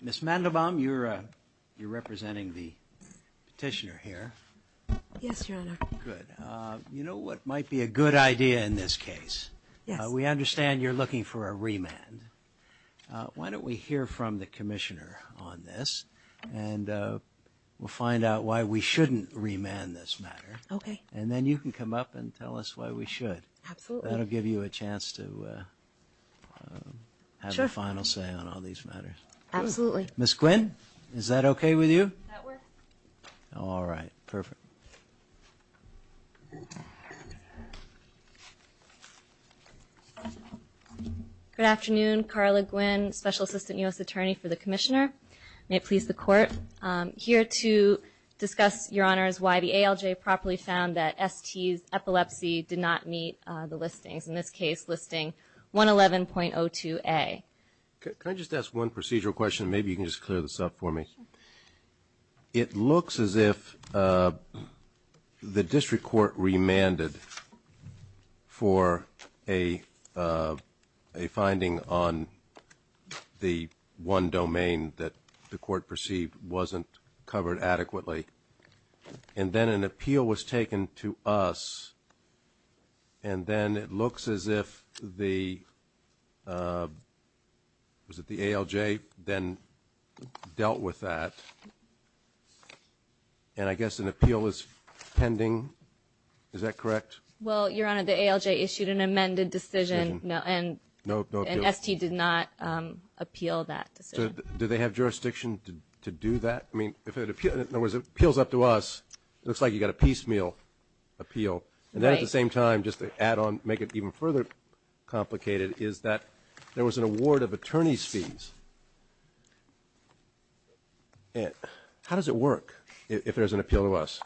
Ms. Mandelbaum, you're representing the petitioner here. Yes, Your Honor. Good. You know what might be a good idea in this case? Yes. We understand you're looking for a remand. Why don't we hear from the commissioner on this, and we'll find out why we shouldn't remand this matter. Okay. And then you can come up and tell us why we should. Absolutely. That'll give you a chance to have a final say on all these matters. Absolutely. Ms. Quinn, is that okay with you? That works. All right. Perfect. Good afternoon. Carla Quinn, Special Assistant U.S. Attorney for the Commissioner. May it please the Court. I'm here to discuss, Your Honors, why the ALJ properly found that ST's epilepsy did not meet the listings. In this case, listing 111.02A. Can I just ask one procedural question? Maybe you can just clear this up for me. It looks as if the district court remanded for a finding on the one domain that the court perceived wasn't covered adequately, and then an appeal was taken to us, and then it looks as if the ALJ then dealt with that. And I guess an appeal is pending. Is that correct? Well, Your Honor, the ALJ issued an amended decision, and ST did not appeal that decision. Do they have jurisdiction to do that? I mean, if it appeals up to us, it looks like you've got a piecemeal appeal. And then at the same time, just to add on, make it even further complicated, is that there was an award of attorney's fees. How does it work if there's an appeal to us?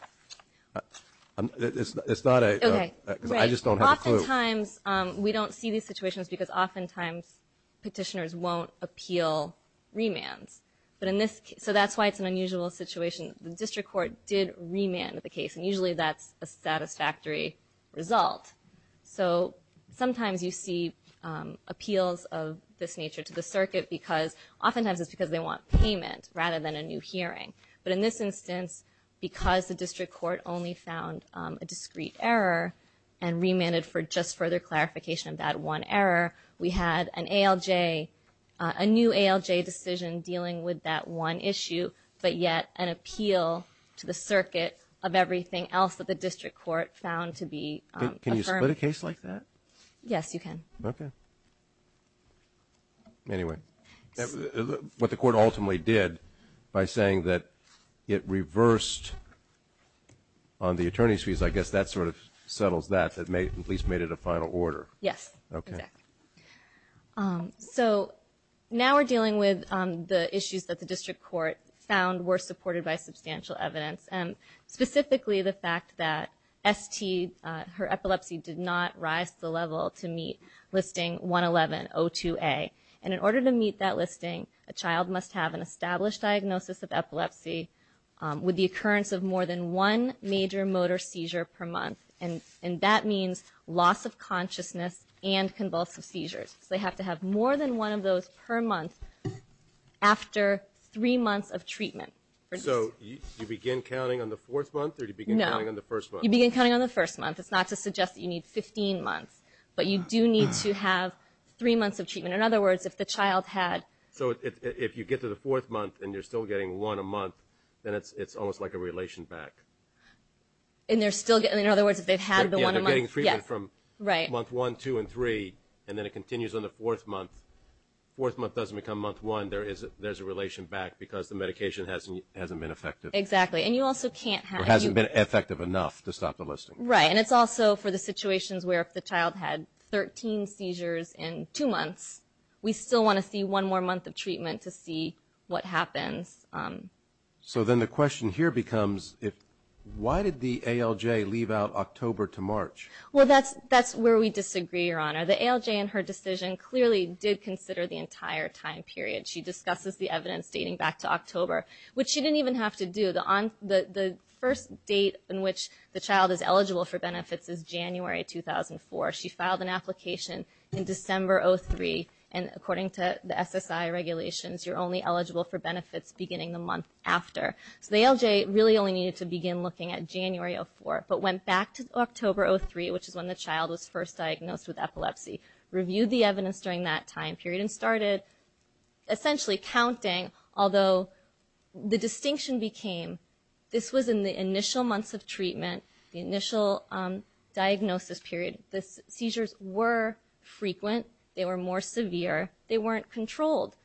It's not a – I just don't have a clue. Right. Oftentimes we don't see these situations because oftentimes petitioners won't appeal remands. But in this – so that's why it's an unusual situation. The district court did remand the case, and usually that's a satisfactory result. So sometimes you see appeals of this nature to the circuit because – oftentimes it's because they want payment rather than a new hearing. But in this instance, because the district court only found a discrete error and remanded for just further clarification of that one error, we had an ALJ – a new ALJ decision dealing with that one issue, but yet an appeal to the circuit of everything else that the district court found to be – Can you split a case like that? Yes, you can. Okay. Anyway, what the court ultimately did by saying that it reversed on the attorney's fees, I guess that sort of settles that, at least made it a final order. Yes, exactly. Okay. So now we're dealing with the issues that the district court found were supported by substantial evidence, and specifically the fact that ST – her epilepsy did not rise to the level to meet listing 111-02A. And in order to meet that listing, a child must have an established diagnosis of epilepsy with the occurrence of more than one major motor seizure per month. And that means loss of consciousness and convulsive seizures. So they have to have more than one of those per month after three months of treatment. So you begin counting on the fourth month or do you begin counting on the first month? No, you begin counting on the first month. It's not to suggest that you need 15 months, but you do need to have three months of treatment. In other words, if the child had – So if you get to the fourth month and you're still getting one a month, then it's almost like a relation back. In other words, if they've had the one a month – Yeah, they're getting treatment from month one, two, and three, and then it continues on the fourth month. Fourth month doesn't become month one. There's a relation back because the medication hasn't been effective. Exactly. And you also can't have – Or hasn't been effective enough to stop the listing. Right. And it's also for the situations where if the child had 13 seizures in two months, we still want to see one more month of treatment to see what happens. So then the question here becomes why did the ALJ leave out October to March? Well, that's where we disagree, Your Honor. The ALJ in her decision clearly did consider the entire time period. She discusses the evidence dating back to October, which she didn't even have to do. The first date in which the child is eligible for benefits is January 2004. She filed an application in December 2003, and according to the SSI regulations, you're only eligible for benefits beginning the month after. So the ALJ really only needed to begin looking at January 2004, but went back to October 2003, which is when the child was first diagnosed with epilepsy, reviewed the evidence during that time period, and started essentially counting, although the distinction became this was in the initial months of treatment, the initial diagnosis period. The seizures were frequent. They were more severe. They weren't controlled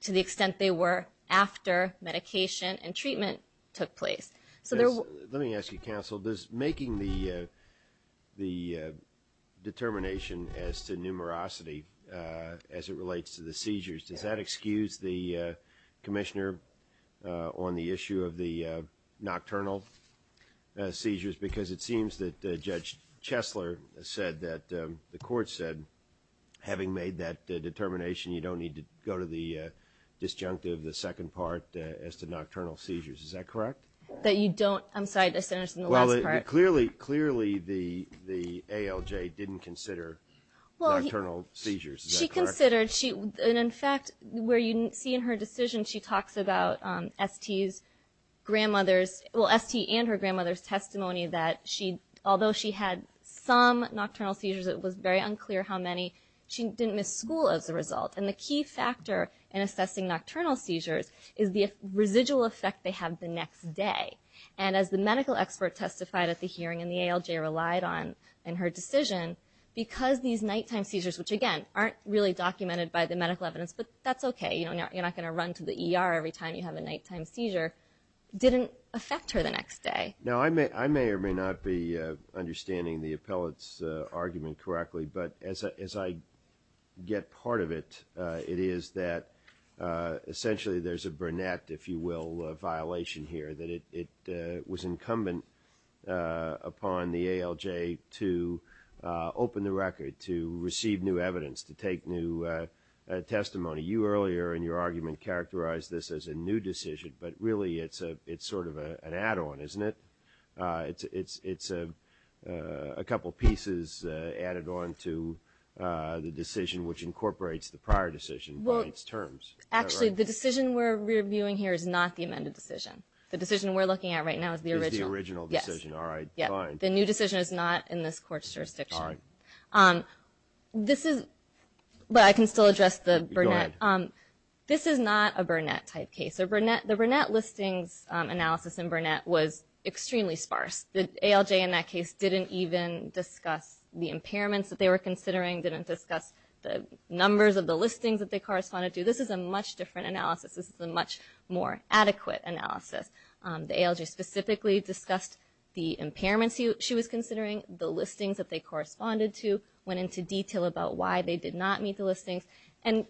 to the extent they were after medication and treatment took place. Let me ask you, counsel, making the determination as to numerosity as it relates to the seizures, does that excuse the commissioner on the issue of the nocturnal seizures? Because it seems that Judge Chesler said that the court said, having made that determination, you don't need to go to the disjunctive, the second part, as to nocturnal seizures. Is that correct? That you don't – I'm sorry, the sentence in the last part. Well, clearly the ALJ didn't consider nocturnal seizures. Is that correct? She considered. In fact, where you see in her decision, she talks about ST's grandmother's – although she had some nocturnal seizures, it was very unclear how many, she didn't miss school as a result. And the key factor in assessing nocturnal seizures is the residual effect they have the next day. And as the medical expert testified at the hearing, and the ALJ relied on in her decision, because these nighttime seizures, which, again, aren't really documented by the medical evidence, but that's okay, you're not going to run to the ER every time you have a nighttime seizure, didn't affect her the next day. Now, I may or may not be understanding the appellate's argument correctly, but as I get part of it, it is that essentially there's a Burnett, if you will, violation here, that it was incumbent upon the ALJ to open the record, to receive new evidence, to take new testimony. You earlier in your argument characterized this as a new decision, but really it's sort of an add-on, isn't it? It's a couple pieces added on to the decision which incorporates the prior decision by its terms. Actually, the decision we're reviewing here is not the amended decision. The decision we're looking at right now is the original. Is the original decision, all right, fine. The new decision is not in this court's jurisdiction. All right. This is – but I can still address the Burnett. This is not a Burnett-type case. The Burnett listings analysis in Burnett was extremely sparse. The ALJ in that case didn't even discuss the impairments that they were considering, didn't discuss the numbers of the listings that they corresponded to. This is a much different analysis. This is a much more adequate analysis. The ALJ specifically discussed the impairments she was considering, the listings that they corresponded to, went into detail about why they did not meet the listings, and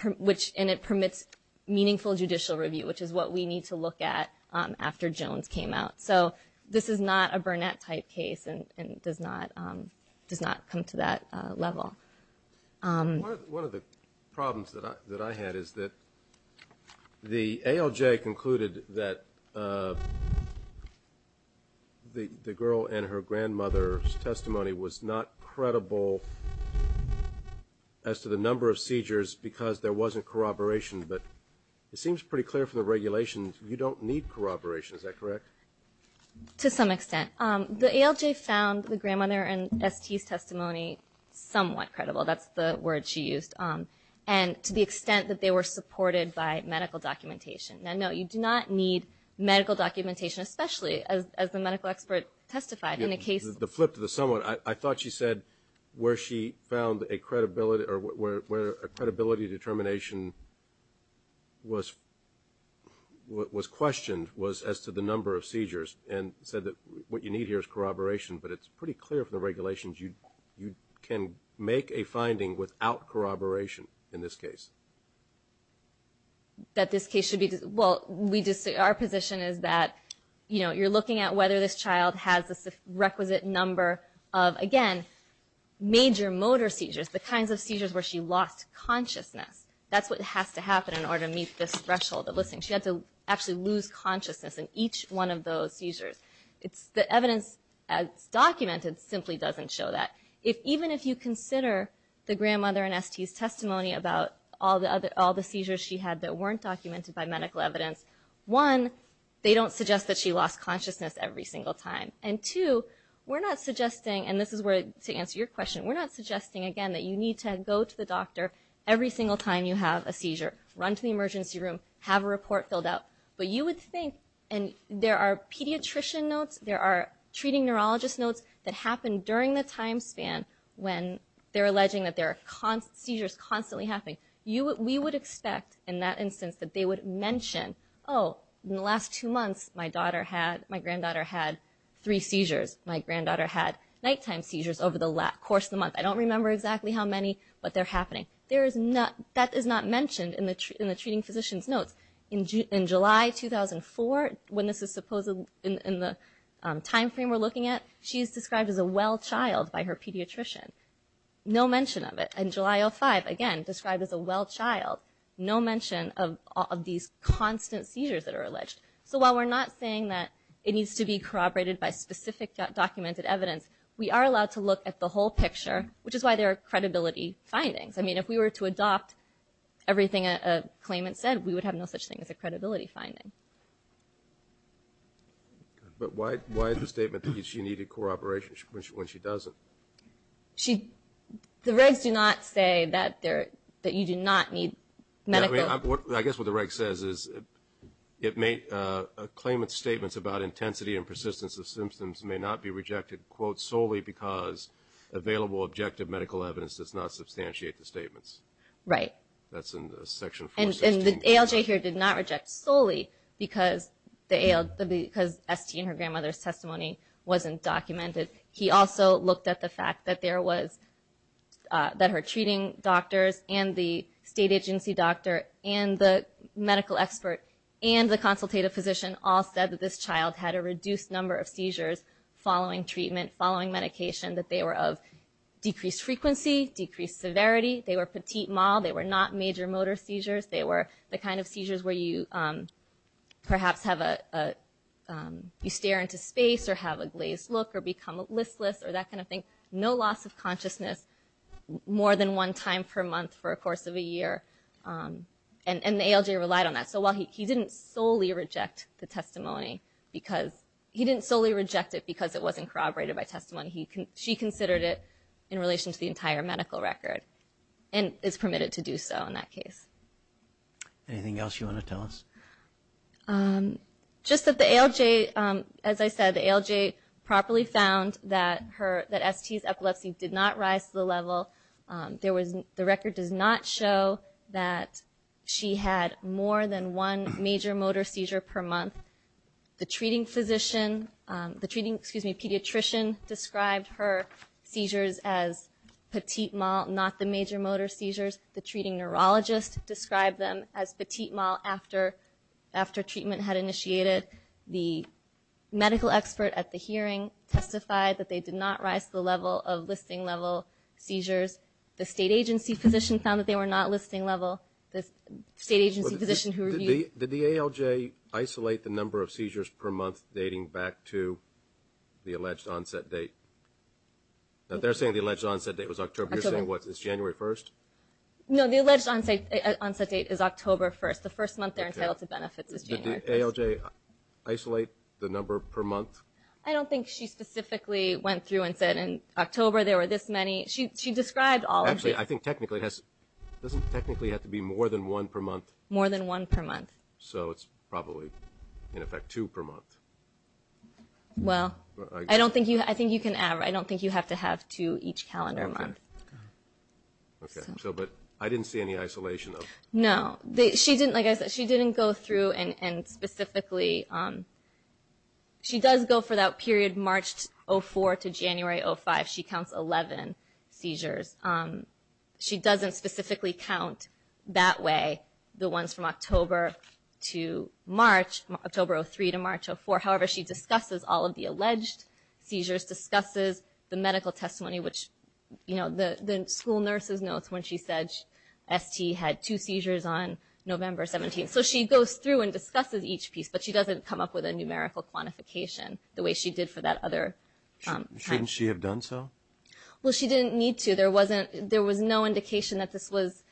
it permits meaningful judicial review, which is what we need to look at after Jones came out. So this is not a Burnett-type case and does not come to that level. One of the problems that I had is that the ALJ concluded that the girl and her grandmother's testimony was not credible as to the number of seizures because there wasn't corroboration. But it seems pretty clear from the regulations you don't need corroboration. Is that correct? To some extent. The ALJ found the grandmother and ST's testimony somewhat credible. That's the word she used. And to the extent that they were supported by medical documentation. Now, no, you do not need medical documentation, especially as the medical expert testified in a case. The flip to the somewhat. I thought she said where she found a credibility determination was questioned was as to the number of seizures and said that what you need here is corroboration. But it's pretty clear from the regulations you can make a finding without corroboration in this case. That this case should be. Well, our position is that you're looking at whether this child has the requisite number of, again, major motor seizures, the kinds of seizures where she lost consciousness. That's what has to happen in order to meet this threshold of listening. She had to actually lose consciousness in each one of those seizures. The evidence as documented simply doesn't show that. Even if you consider the grandmother and ST's testimony about all the seizures she had that weren't documented by medical evidence. One, they don't suggest that she lost consciousness every single time. And two, we're not suggesting. And this is to answer your question. We're not suggesting, again, that you need to go to the doctor every single time you have a seizure. Run to the emergency room. Have a report filled out. But you would think. And there are pediatrician notes. There are treating neurologist notes that happen during the time span when they're alleging that there are seizures constantly happening. We would expect, in that instance, that they would mention, oh, in the last two months my granddaughter had three seizures. My granddaughter had nighttime seizures over the course of the month. I don't remember exactly how many, but they're happening. That is not mentioned in the treating physician's notes. In July 2004, when this is supposed in the time frame we're looking at, she is described as a well child by her pediatrician. No mention of it. In July 2005, again, described as a well child. No mention of these constant seizures that are alleged. So while we're not saying that it needs to be corroborated by specific documented evidence, we are allowed to look at the whole picture, which is why there are credibility findings. I mean, if we were to adopt everything a claimant said, we would have no such thing as a credibility finding. But why the statement that she needed corroboration when she doesn't? The regs do not say that you do not need medical. I guess what the reg says is a claimant's statements about intensity and persistence of symptoms may not be rejected, quote, solely because available objective medical evidence does not substantiate the statements. Right. That's in Section 416. And the ALJ here did not reject solely because ST and her grandmother's testimony wasn't documented. He also looked at the fact that her treating doctors and the state agency doctor and the medical expert and the consultative physician all said that this child had a reduced number of seizures following treatment, following medication, that they were of decreased frequency, decreased severity. They were petite mal. They were not major motor seizures. They were the kind of seizures where you perhaps have a you stare into space or have a glazed look or become listless or that kind of thing. No loss of consciousness more than one time per month for a course of a year. And the ALJ relied on that. So while he didn't solely reject the testimony because he didn't solely reject it because it wasn't corroborated by testimony. She considered it in relation to the entire medical record and is permitted to do so in that case. Anything else you want to tell us? Just that the ALJ, as I said, the ALJ properly found that ST's epilepsy did not rise to the level. The record does not show that she had more than one major motor seizure per month. The treating physician, the treating pediatrician described her seizures as petite mal, not the major motor seizures. The treating neurologist described them as petite mal after treatment had initiated. The medical expert at the hearing testified that they did not rise to the level of listing level seizures. The state agency physician found that they were not listing level. The state agency physician who reviewed. Did the ALJ isolate the number of seizures per month dating back to the alleged onset date? They're saying the alleged onset date was October. You're saying, what, it's January 1st? No, the alleged onset date is October 1st. The first month they're entitled to benefits is January 1st. Did the ALJ isolate the number per month? I don't think she specifically went through and said in October there were this many. She described all of these. Actually, I think technically it has, doesn't technically have to be more than one per month? More than one per month. So it's probably, in effect, two per month. Well, I don't think you, I think you can, I don't think you have to have two each calendar month. Okay, so but I didn't see any isolation of. No, she didn't, like I said, she didn't go through and specifically. She does go for that period March 04 to January 05. She counts 11 seizures. She doesn't specifically count that way, the ones from October to March, October 03 to March 04. However, she discusses all of the alleged seizures, discusses the medical testimony, which the school nurse's notes when she said ST had two seizures on November 17th. So she goes through and discusses each piece, but she doesn't come up with a numerical quantification the way she did for that other time. Shouldn't she have done so? Well, she didn't need to. There wasn't, there was no indication that this was,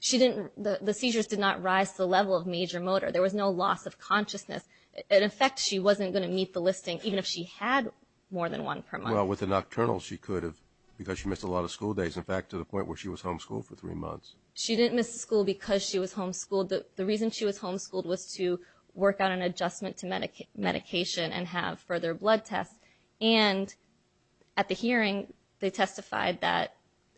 she didn't, the seizures did not rise to the level of major motor. There was no loss of consciousness. In effect, she wasn't going to meet the listing even if she had more than one per month. Well, with a nocturnal she could have because she missed a lot of school days, in fact, to the point where she was homeschooled for three months. She didn't miss school because she was homeschooled. The reason she was homeschooled was to work on an adjustment to medication and have further blood tests. And at the hearing they testified that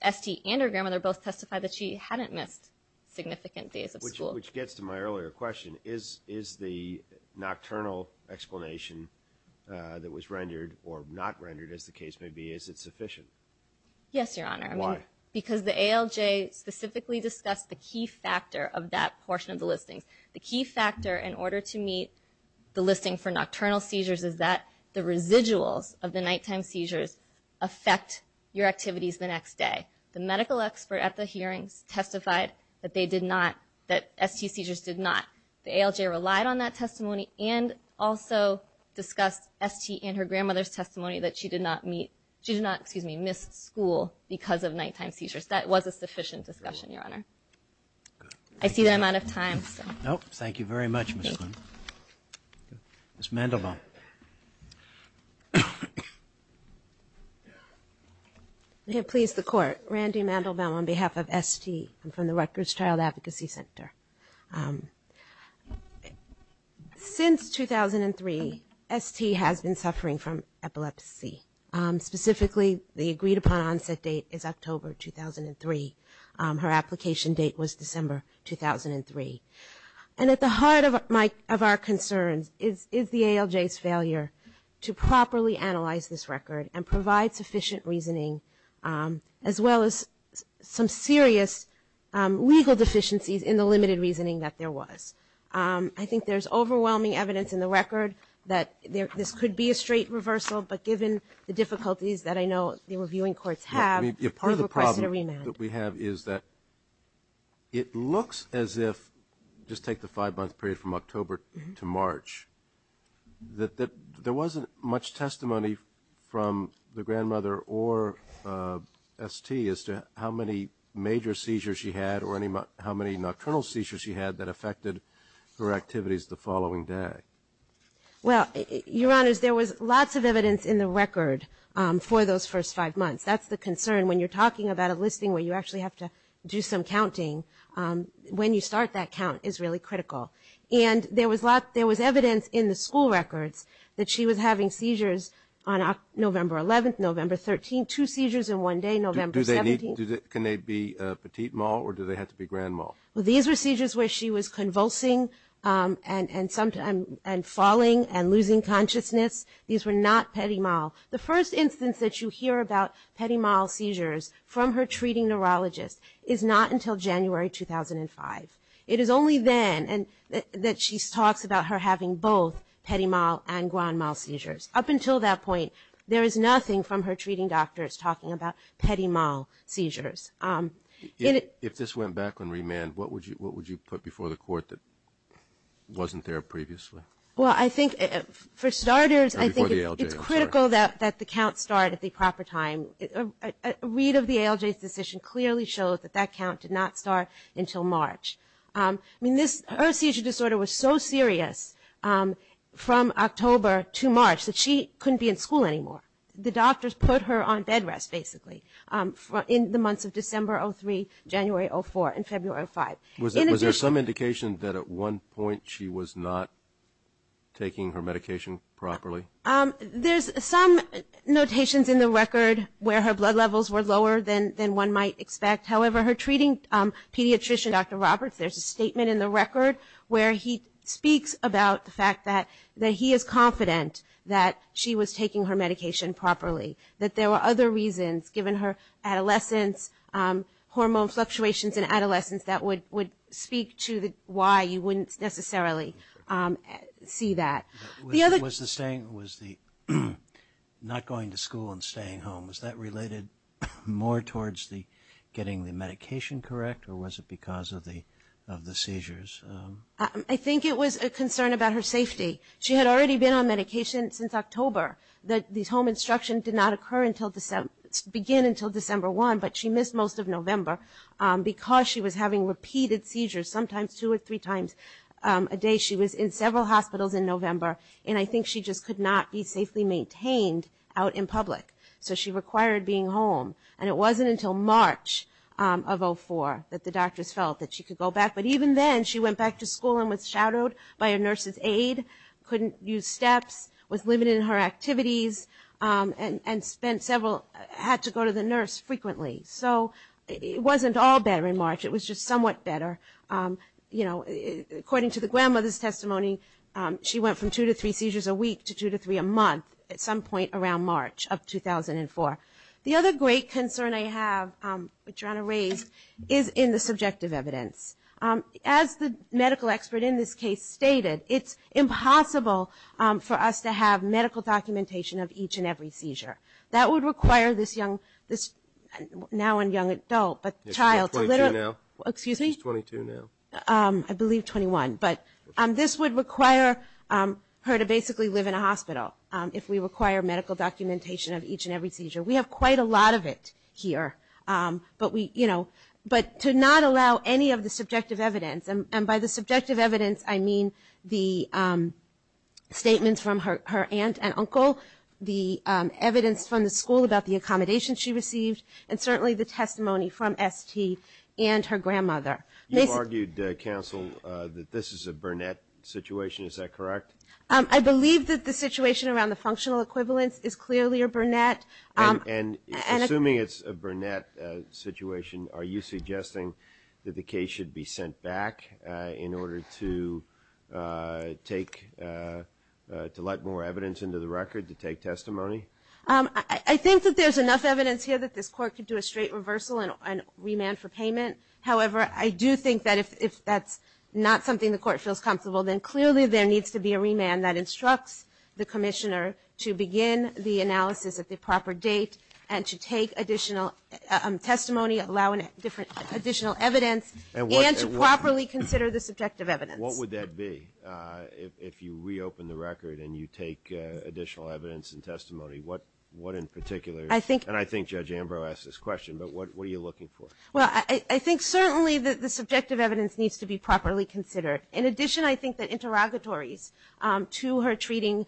ST and her grandmother both testified that she hadn't missed significant days of school. Which gets to my earlier question. Is the nocturnal explanation that was rendered or not rendered, as the case may be, is it sufficient? Yes, Your Honor. Why? Because the ALJ specifically discussed the key factor of that portion of the listings. The key factor in order to meet the listing for nocturnal seizures is that the residuals of the nighttime seizures affect your activities the next day. The medical expert at the hearings testified that they did not, that ST seizures did not. The ALJ relied on that testimony and also discussed ST and her grandmother's testimony that she did not meet, she did not, excuse me, miss school because of nighttime seizures. That was a sufficient discussion, Your Honor. I see that I'm out of time. Thank you very much, Ms. Clinton. Ms. Mandelbaum. May it please the Court. Randy Mandelbaum on behalf of ST. I'm from the Rutgers Child Advocacy Center. Since 2003, ST has been suffering from epilepsy. Specifically, the agreed upon onset date is October 2003. Her application date was December 2003. And at the heart of our concerns is the ALJ's failure to properly analyze this record and provide sufficient reasoning, as well as some serious legal deficiencies in the limited reasoning that there was. I think there's overwhelming evidence in the record that this could be a straight reversal, but given the difficulties that I know the reviewing courts have, part of the question to remand. Part of the problem that we have is that it looks as if, just take the five-month period from October to March, that there wasn't much testimony from the grandmother or ST as to how many major seizures she had or how many nocturnal seizures she had that affected her activities the following day. Well, Your Honors, there was lots of evidence in the record for those first five months. That's the concern when you're talking about a listing where you actually have to do some counting. When you start that count is really critical. And there was evidence in the school records that she was having seizures on November 11th, November 13th, two seizures in one day, November 17th. Can they be petit mal or do they have to be grand mal? These were seizures where she was convulsing and falling and losing consciousness. These were not petit mal. The first instance that you hear about petit mal seizures from her treating neurologist is not until January 2005. It is only then that she talks about her having both petit mal and grand mal seizures. Up until that point, there is nothing from her treating doctors talking about petit mal seizures. If this went back on remand, what would you put before the court that wasn't there previously? Well, I think for starters it's critical that the count start at the proper time. A read of the ALJ's decision clearly shows that that count did not start until March. Her seizure disorder was so serious from October to March that she couldn't be in school anymore. The doctors put her on bed rest basically in the months of December 2003, January 2004, and February 2005. Was there some indication that at one point she was not taking her medication properly? There's some notations in the record where her blood levels were lower than one might expect. However, her treating pediatrician, Dr. Roberts, there's a statement in the record where he speaks about the fact that he is confident that she was taking her medication properly. That there were other reasons given her adolescence, hormone fluctuations in adolescence that would speak to why you wouldn't necessarily see that. Was the not going to school and staying home, was that related more towards getting the medication correct, or was it because of the seizures? I think it was a concern about her safety. She had already been on medication since October. The home instruction did not begin until December 1, but she missed most of November because she was having repeated seizures, sometimes two or three times a day. She was in several hospitals in November, and I think she just could not be safely maintained out in public. So she required being home, and it wasn't until March of 04 that the doctors felt that she could go back. But even then, she went back to school and was shadowed by a nurse's aide, couldn't use steps, was limited in her activities, and had to go to the nurse frequently. So it wasn't all better in March, it was just somewhat better. According to the grandmother's testimony, she went from two to three seizures a week to two to three a month at some point around March of 2004. The other great concern I have, which Rana raised, is in the subjective evidence. As the medical expert in this case stated, it's impossible for us to have medical documentation of each and every seizure. That would require this now and young adult, but child to literally... She's 22 now. I believe 21, but this would require her to basically live in a hospital, if we require medical documentation of each and every seizure. We have quite a lot of it here, but to not allow any of the subjective evidence, and by the subjective evidence I mean the statements from her aunt and uncle, the evidence from the school about the accommodations she received, and certainly the testimony from ST and her grandmother. You've argued, Counsel, that this is a Burnett situation, is that correct? I believe that the situation around the functional equivalence is clearly a Burnett. And assuming it's a Burnett situation, are you suggesting that the case should be sent back in order to let more evidence into the record to take testimony? I think that there's enough evidence here that this Court could do a straight reversal and remand for payment. However, I do think that if that's not something the Court feels comfortable, then clearly there needs to be a remand that instructs the Commissioner to begin the analysis at the proper date and to take additional testimony, allow additional evidence, and to properly consider the subjective evidence. What would that be, if you reopen the record and you take additional evidence and testimony? What in particular, and I think Judge Ambrose asked this question, but what are you looking for? Well, I think certainly the subjective evidence needs to be properly considered. In addition, I think that interrogatories to her treating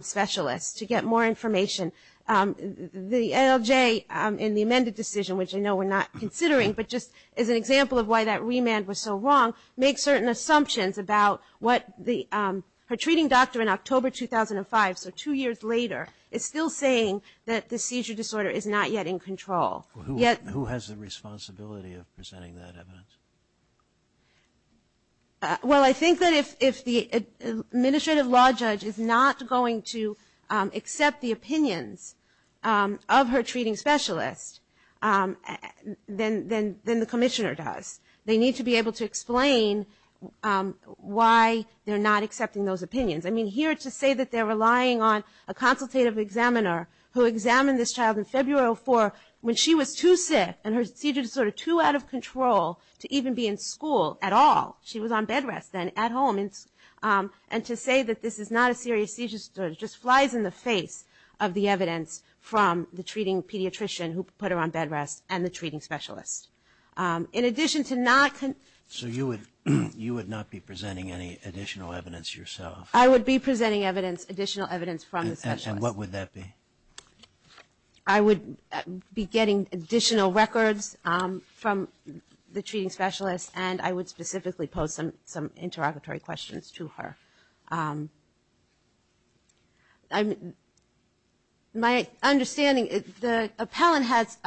specialists to get more information, the ALJ in the amended decision, which I know we're not considering, but just as an example of why that remand was so wrong, make certain assumptions about what her treating doctor in October 2005, so two years later, is still saying that the seizure disorder is not yet in control. Who has the responsibility of presenting that evidence? Well, I think that if the administrative law judge is not going to accept the opinions of her treating specialist, then the Commissioner does. They need to be able to explain why they're not accepting those opinions. I mean, here to say that they're relying on a consultative examiner who examined this child in February 2004, when she was too sick and her seizure disorder too out of control to even be in school at all, she was on bed rest then at home, and to say that this is not a serious seizure disorder just flies in the face of the evidence from the treating pediatrician who put her on bed rest and the treating specialist. So you would not be presenting any additional evidence yourself? I would be presenting additional evidence from the specialist. And what would that be? I would be getting additional records from the treating specialist, and I would specifically pose some interrogatory questions to her. My understanding, the appellant has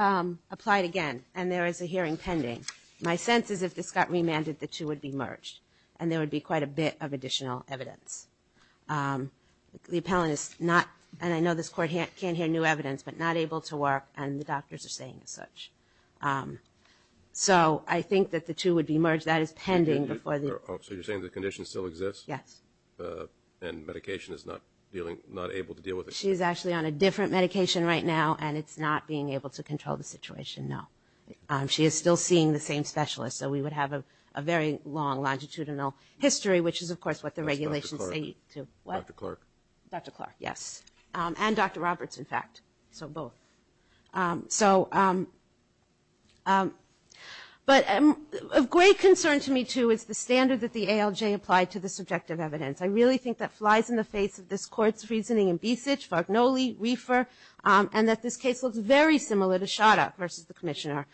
applied again, and there is a hearing pending. My sense is if this got remanded, the two would be merged, and there would be quite a bit of additional evidence. The appellant is not, and I know this court can't hear new evidence, but not able to work, and the doctors are saying as such. So I think that the two would be merged. That is pending. So you're saying the condition still exists? Yes. And medication is not able to deal with it? So both. But of great concern to me, too, is the standard that the ALJ applied to the subjective evidence. I really think that flies in the face of this court's reasoning in Besich, Fargnoli, Reifer, and that this case looks very similar to Shada versus the Commissioner,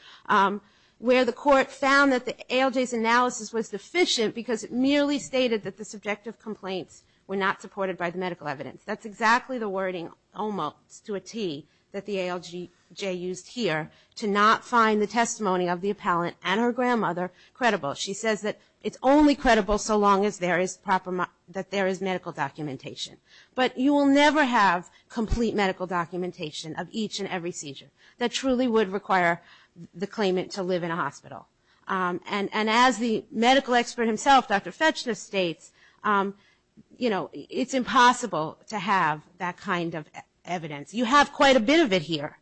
where the court found that the ALJ's analysis was deficient because it merely stated that the subjective complaints were not supported by the medical evidence. That's exactly the wording almost to a T that the ALJ used here to not find the testimony of the appellant and her grandmother credible. She says that it's only credible so long as there is medical documentation. But you will never have complete medical documentation of each and every seizure. That truly would require the claimant to live in a hospital. And as the medical expert himself, Dr. Fetchner, states, it's impossible to have that kind of evidence. You have quite a bit of it here.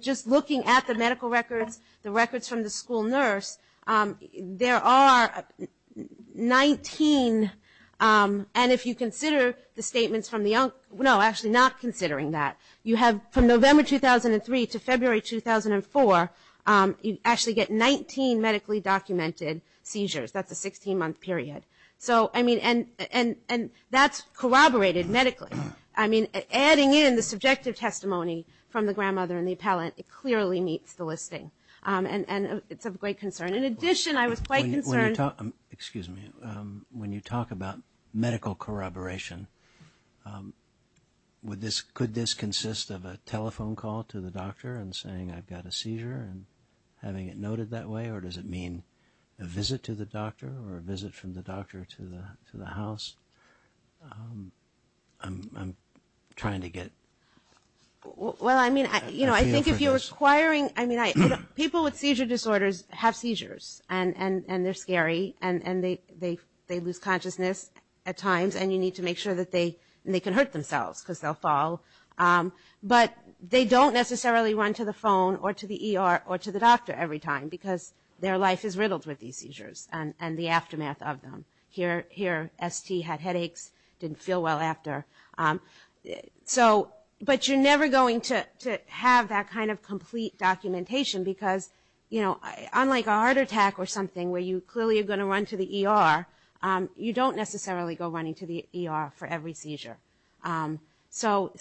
Just looking at the medical records, the records from the school nurse, there are 19, and if you consider the statements from the young, no, actually not considering that. You have from November 2003 to February 2004, you actually get 19 medically documented seizures. That's a 16-month period, and that's corroborated medically. Adding in the subjective testimony from the grandmother and the appellant, it clearly meets the listing, and it's of great concern. In addition, I was quite concerned. When you talk about medical corroboration, could this consist of a telephone call to the doctor and saying I've got a seizure and having it noted that way? Or does it mean a visit to the doctor or a visit from the doctor to the house? You know, I think if you're requiring, I mean, people with seizure disorders have seizures, and they're scary, and they lose consciousness at times, and you need to make sure that they can hurt themselves because they'll fall. But they don't necessarily run to the phone or to the ER or to the doctor every time because their life is riddled with these seizures and the aftermath of them. Here, ST had headaches, didn't feel well after. But you're never going to have that kind of complete documentation because, you know, unlike a heart attack or something where you clearly are going to run to the ER, you don't necessarily go running to the ER for every seizure. So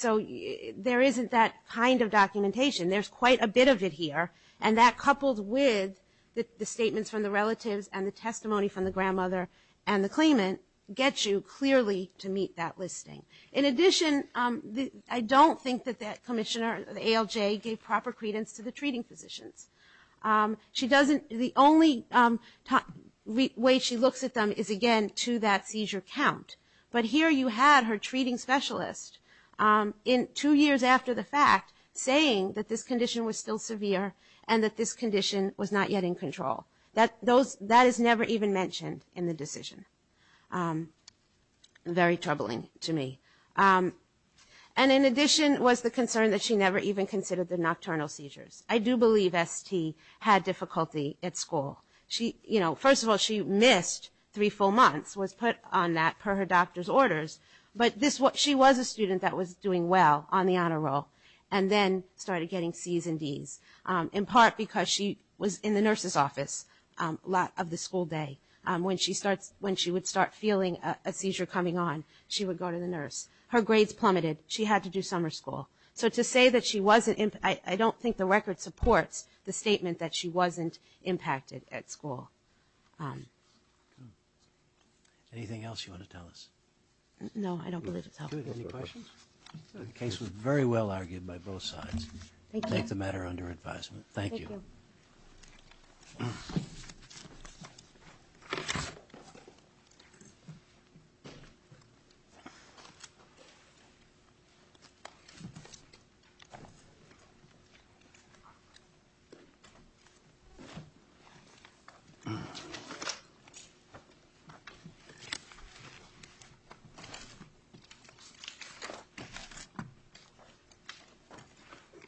there isn't that kind of documentation. There's quite a bit of it here, and that coupled with the statements from the relatives and the testimony from the grandmother and the claimant gets you clearly to meet that listing. In addition, I don't think that that commissioner, the ALJ, gave proper credence to the treating physicians. The only way she looks at them is, again, to that seizure count. But here you had her treating specialist, two years after the fact, saying that this condition was still severe and that this condition was not yet in control. That is never even mentioned in the decision. Very troubling to me. And in addition was the concern that she never even considered the nocturnal seizures. I do believe ST had difficulty at school. First of all, she missed three full months, was put on that per her doctor's orders, but she was a student that was doing well on the honor roll and then started getting C's and D's, in part because she was in the nurse's office a lot of the school day. When she would start feeling a seizure coming on, she would go to the nurse. Her grades plummeted. She had to do summer school. So to say that she wasn't, I don't think the record supports the statement that she wasn't impacted at school. Anything else you want to tell us? No, I don't believe it's helpful. The case was very well argued by both sides. I take the matter under advisement. Thank you. Thank you.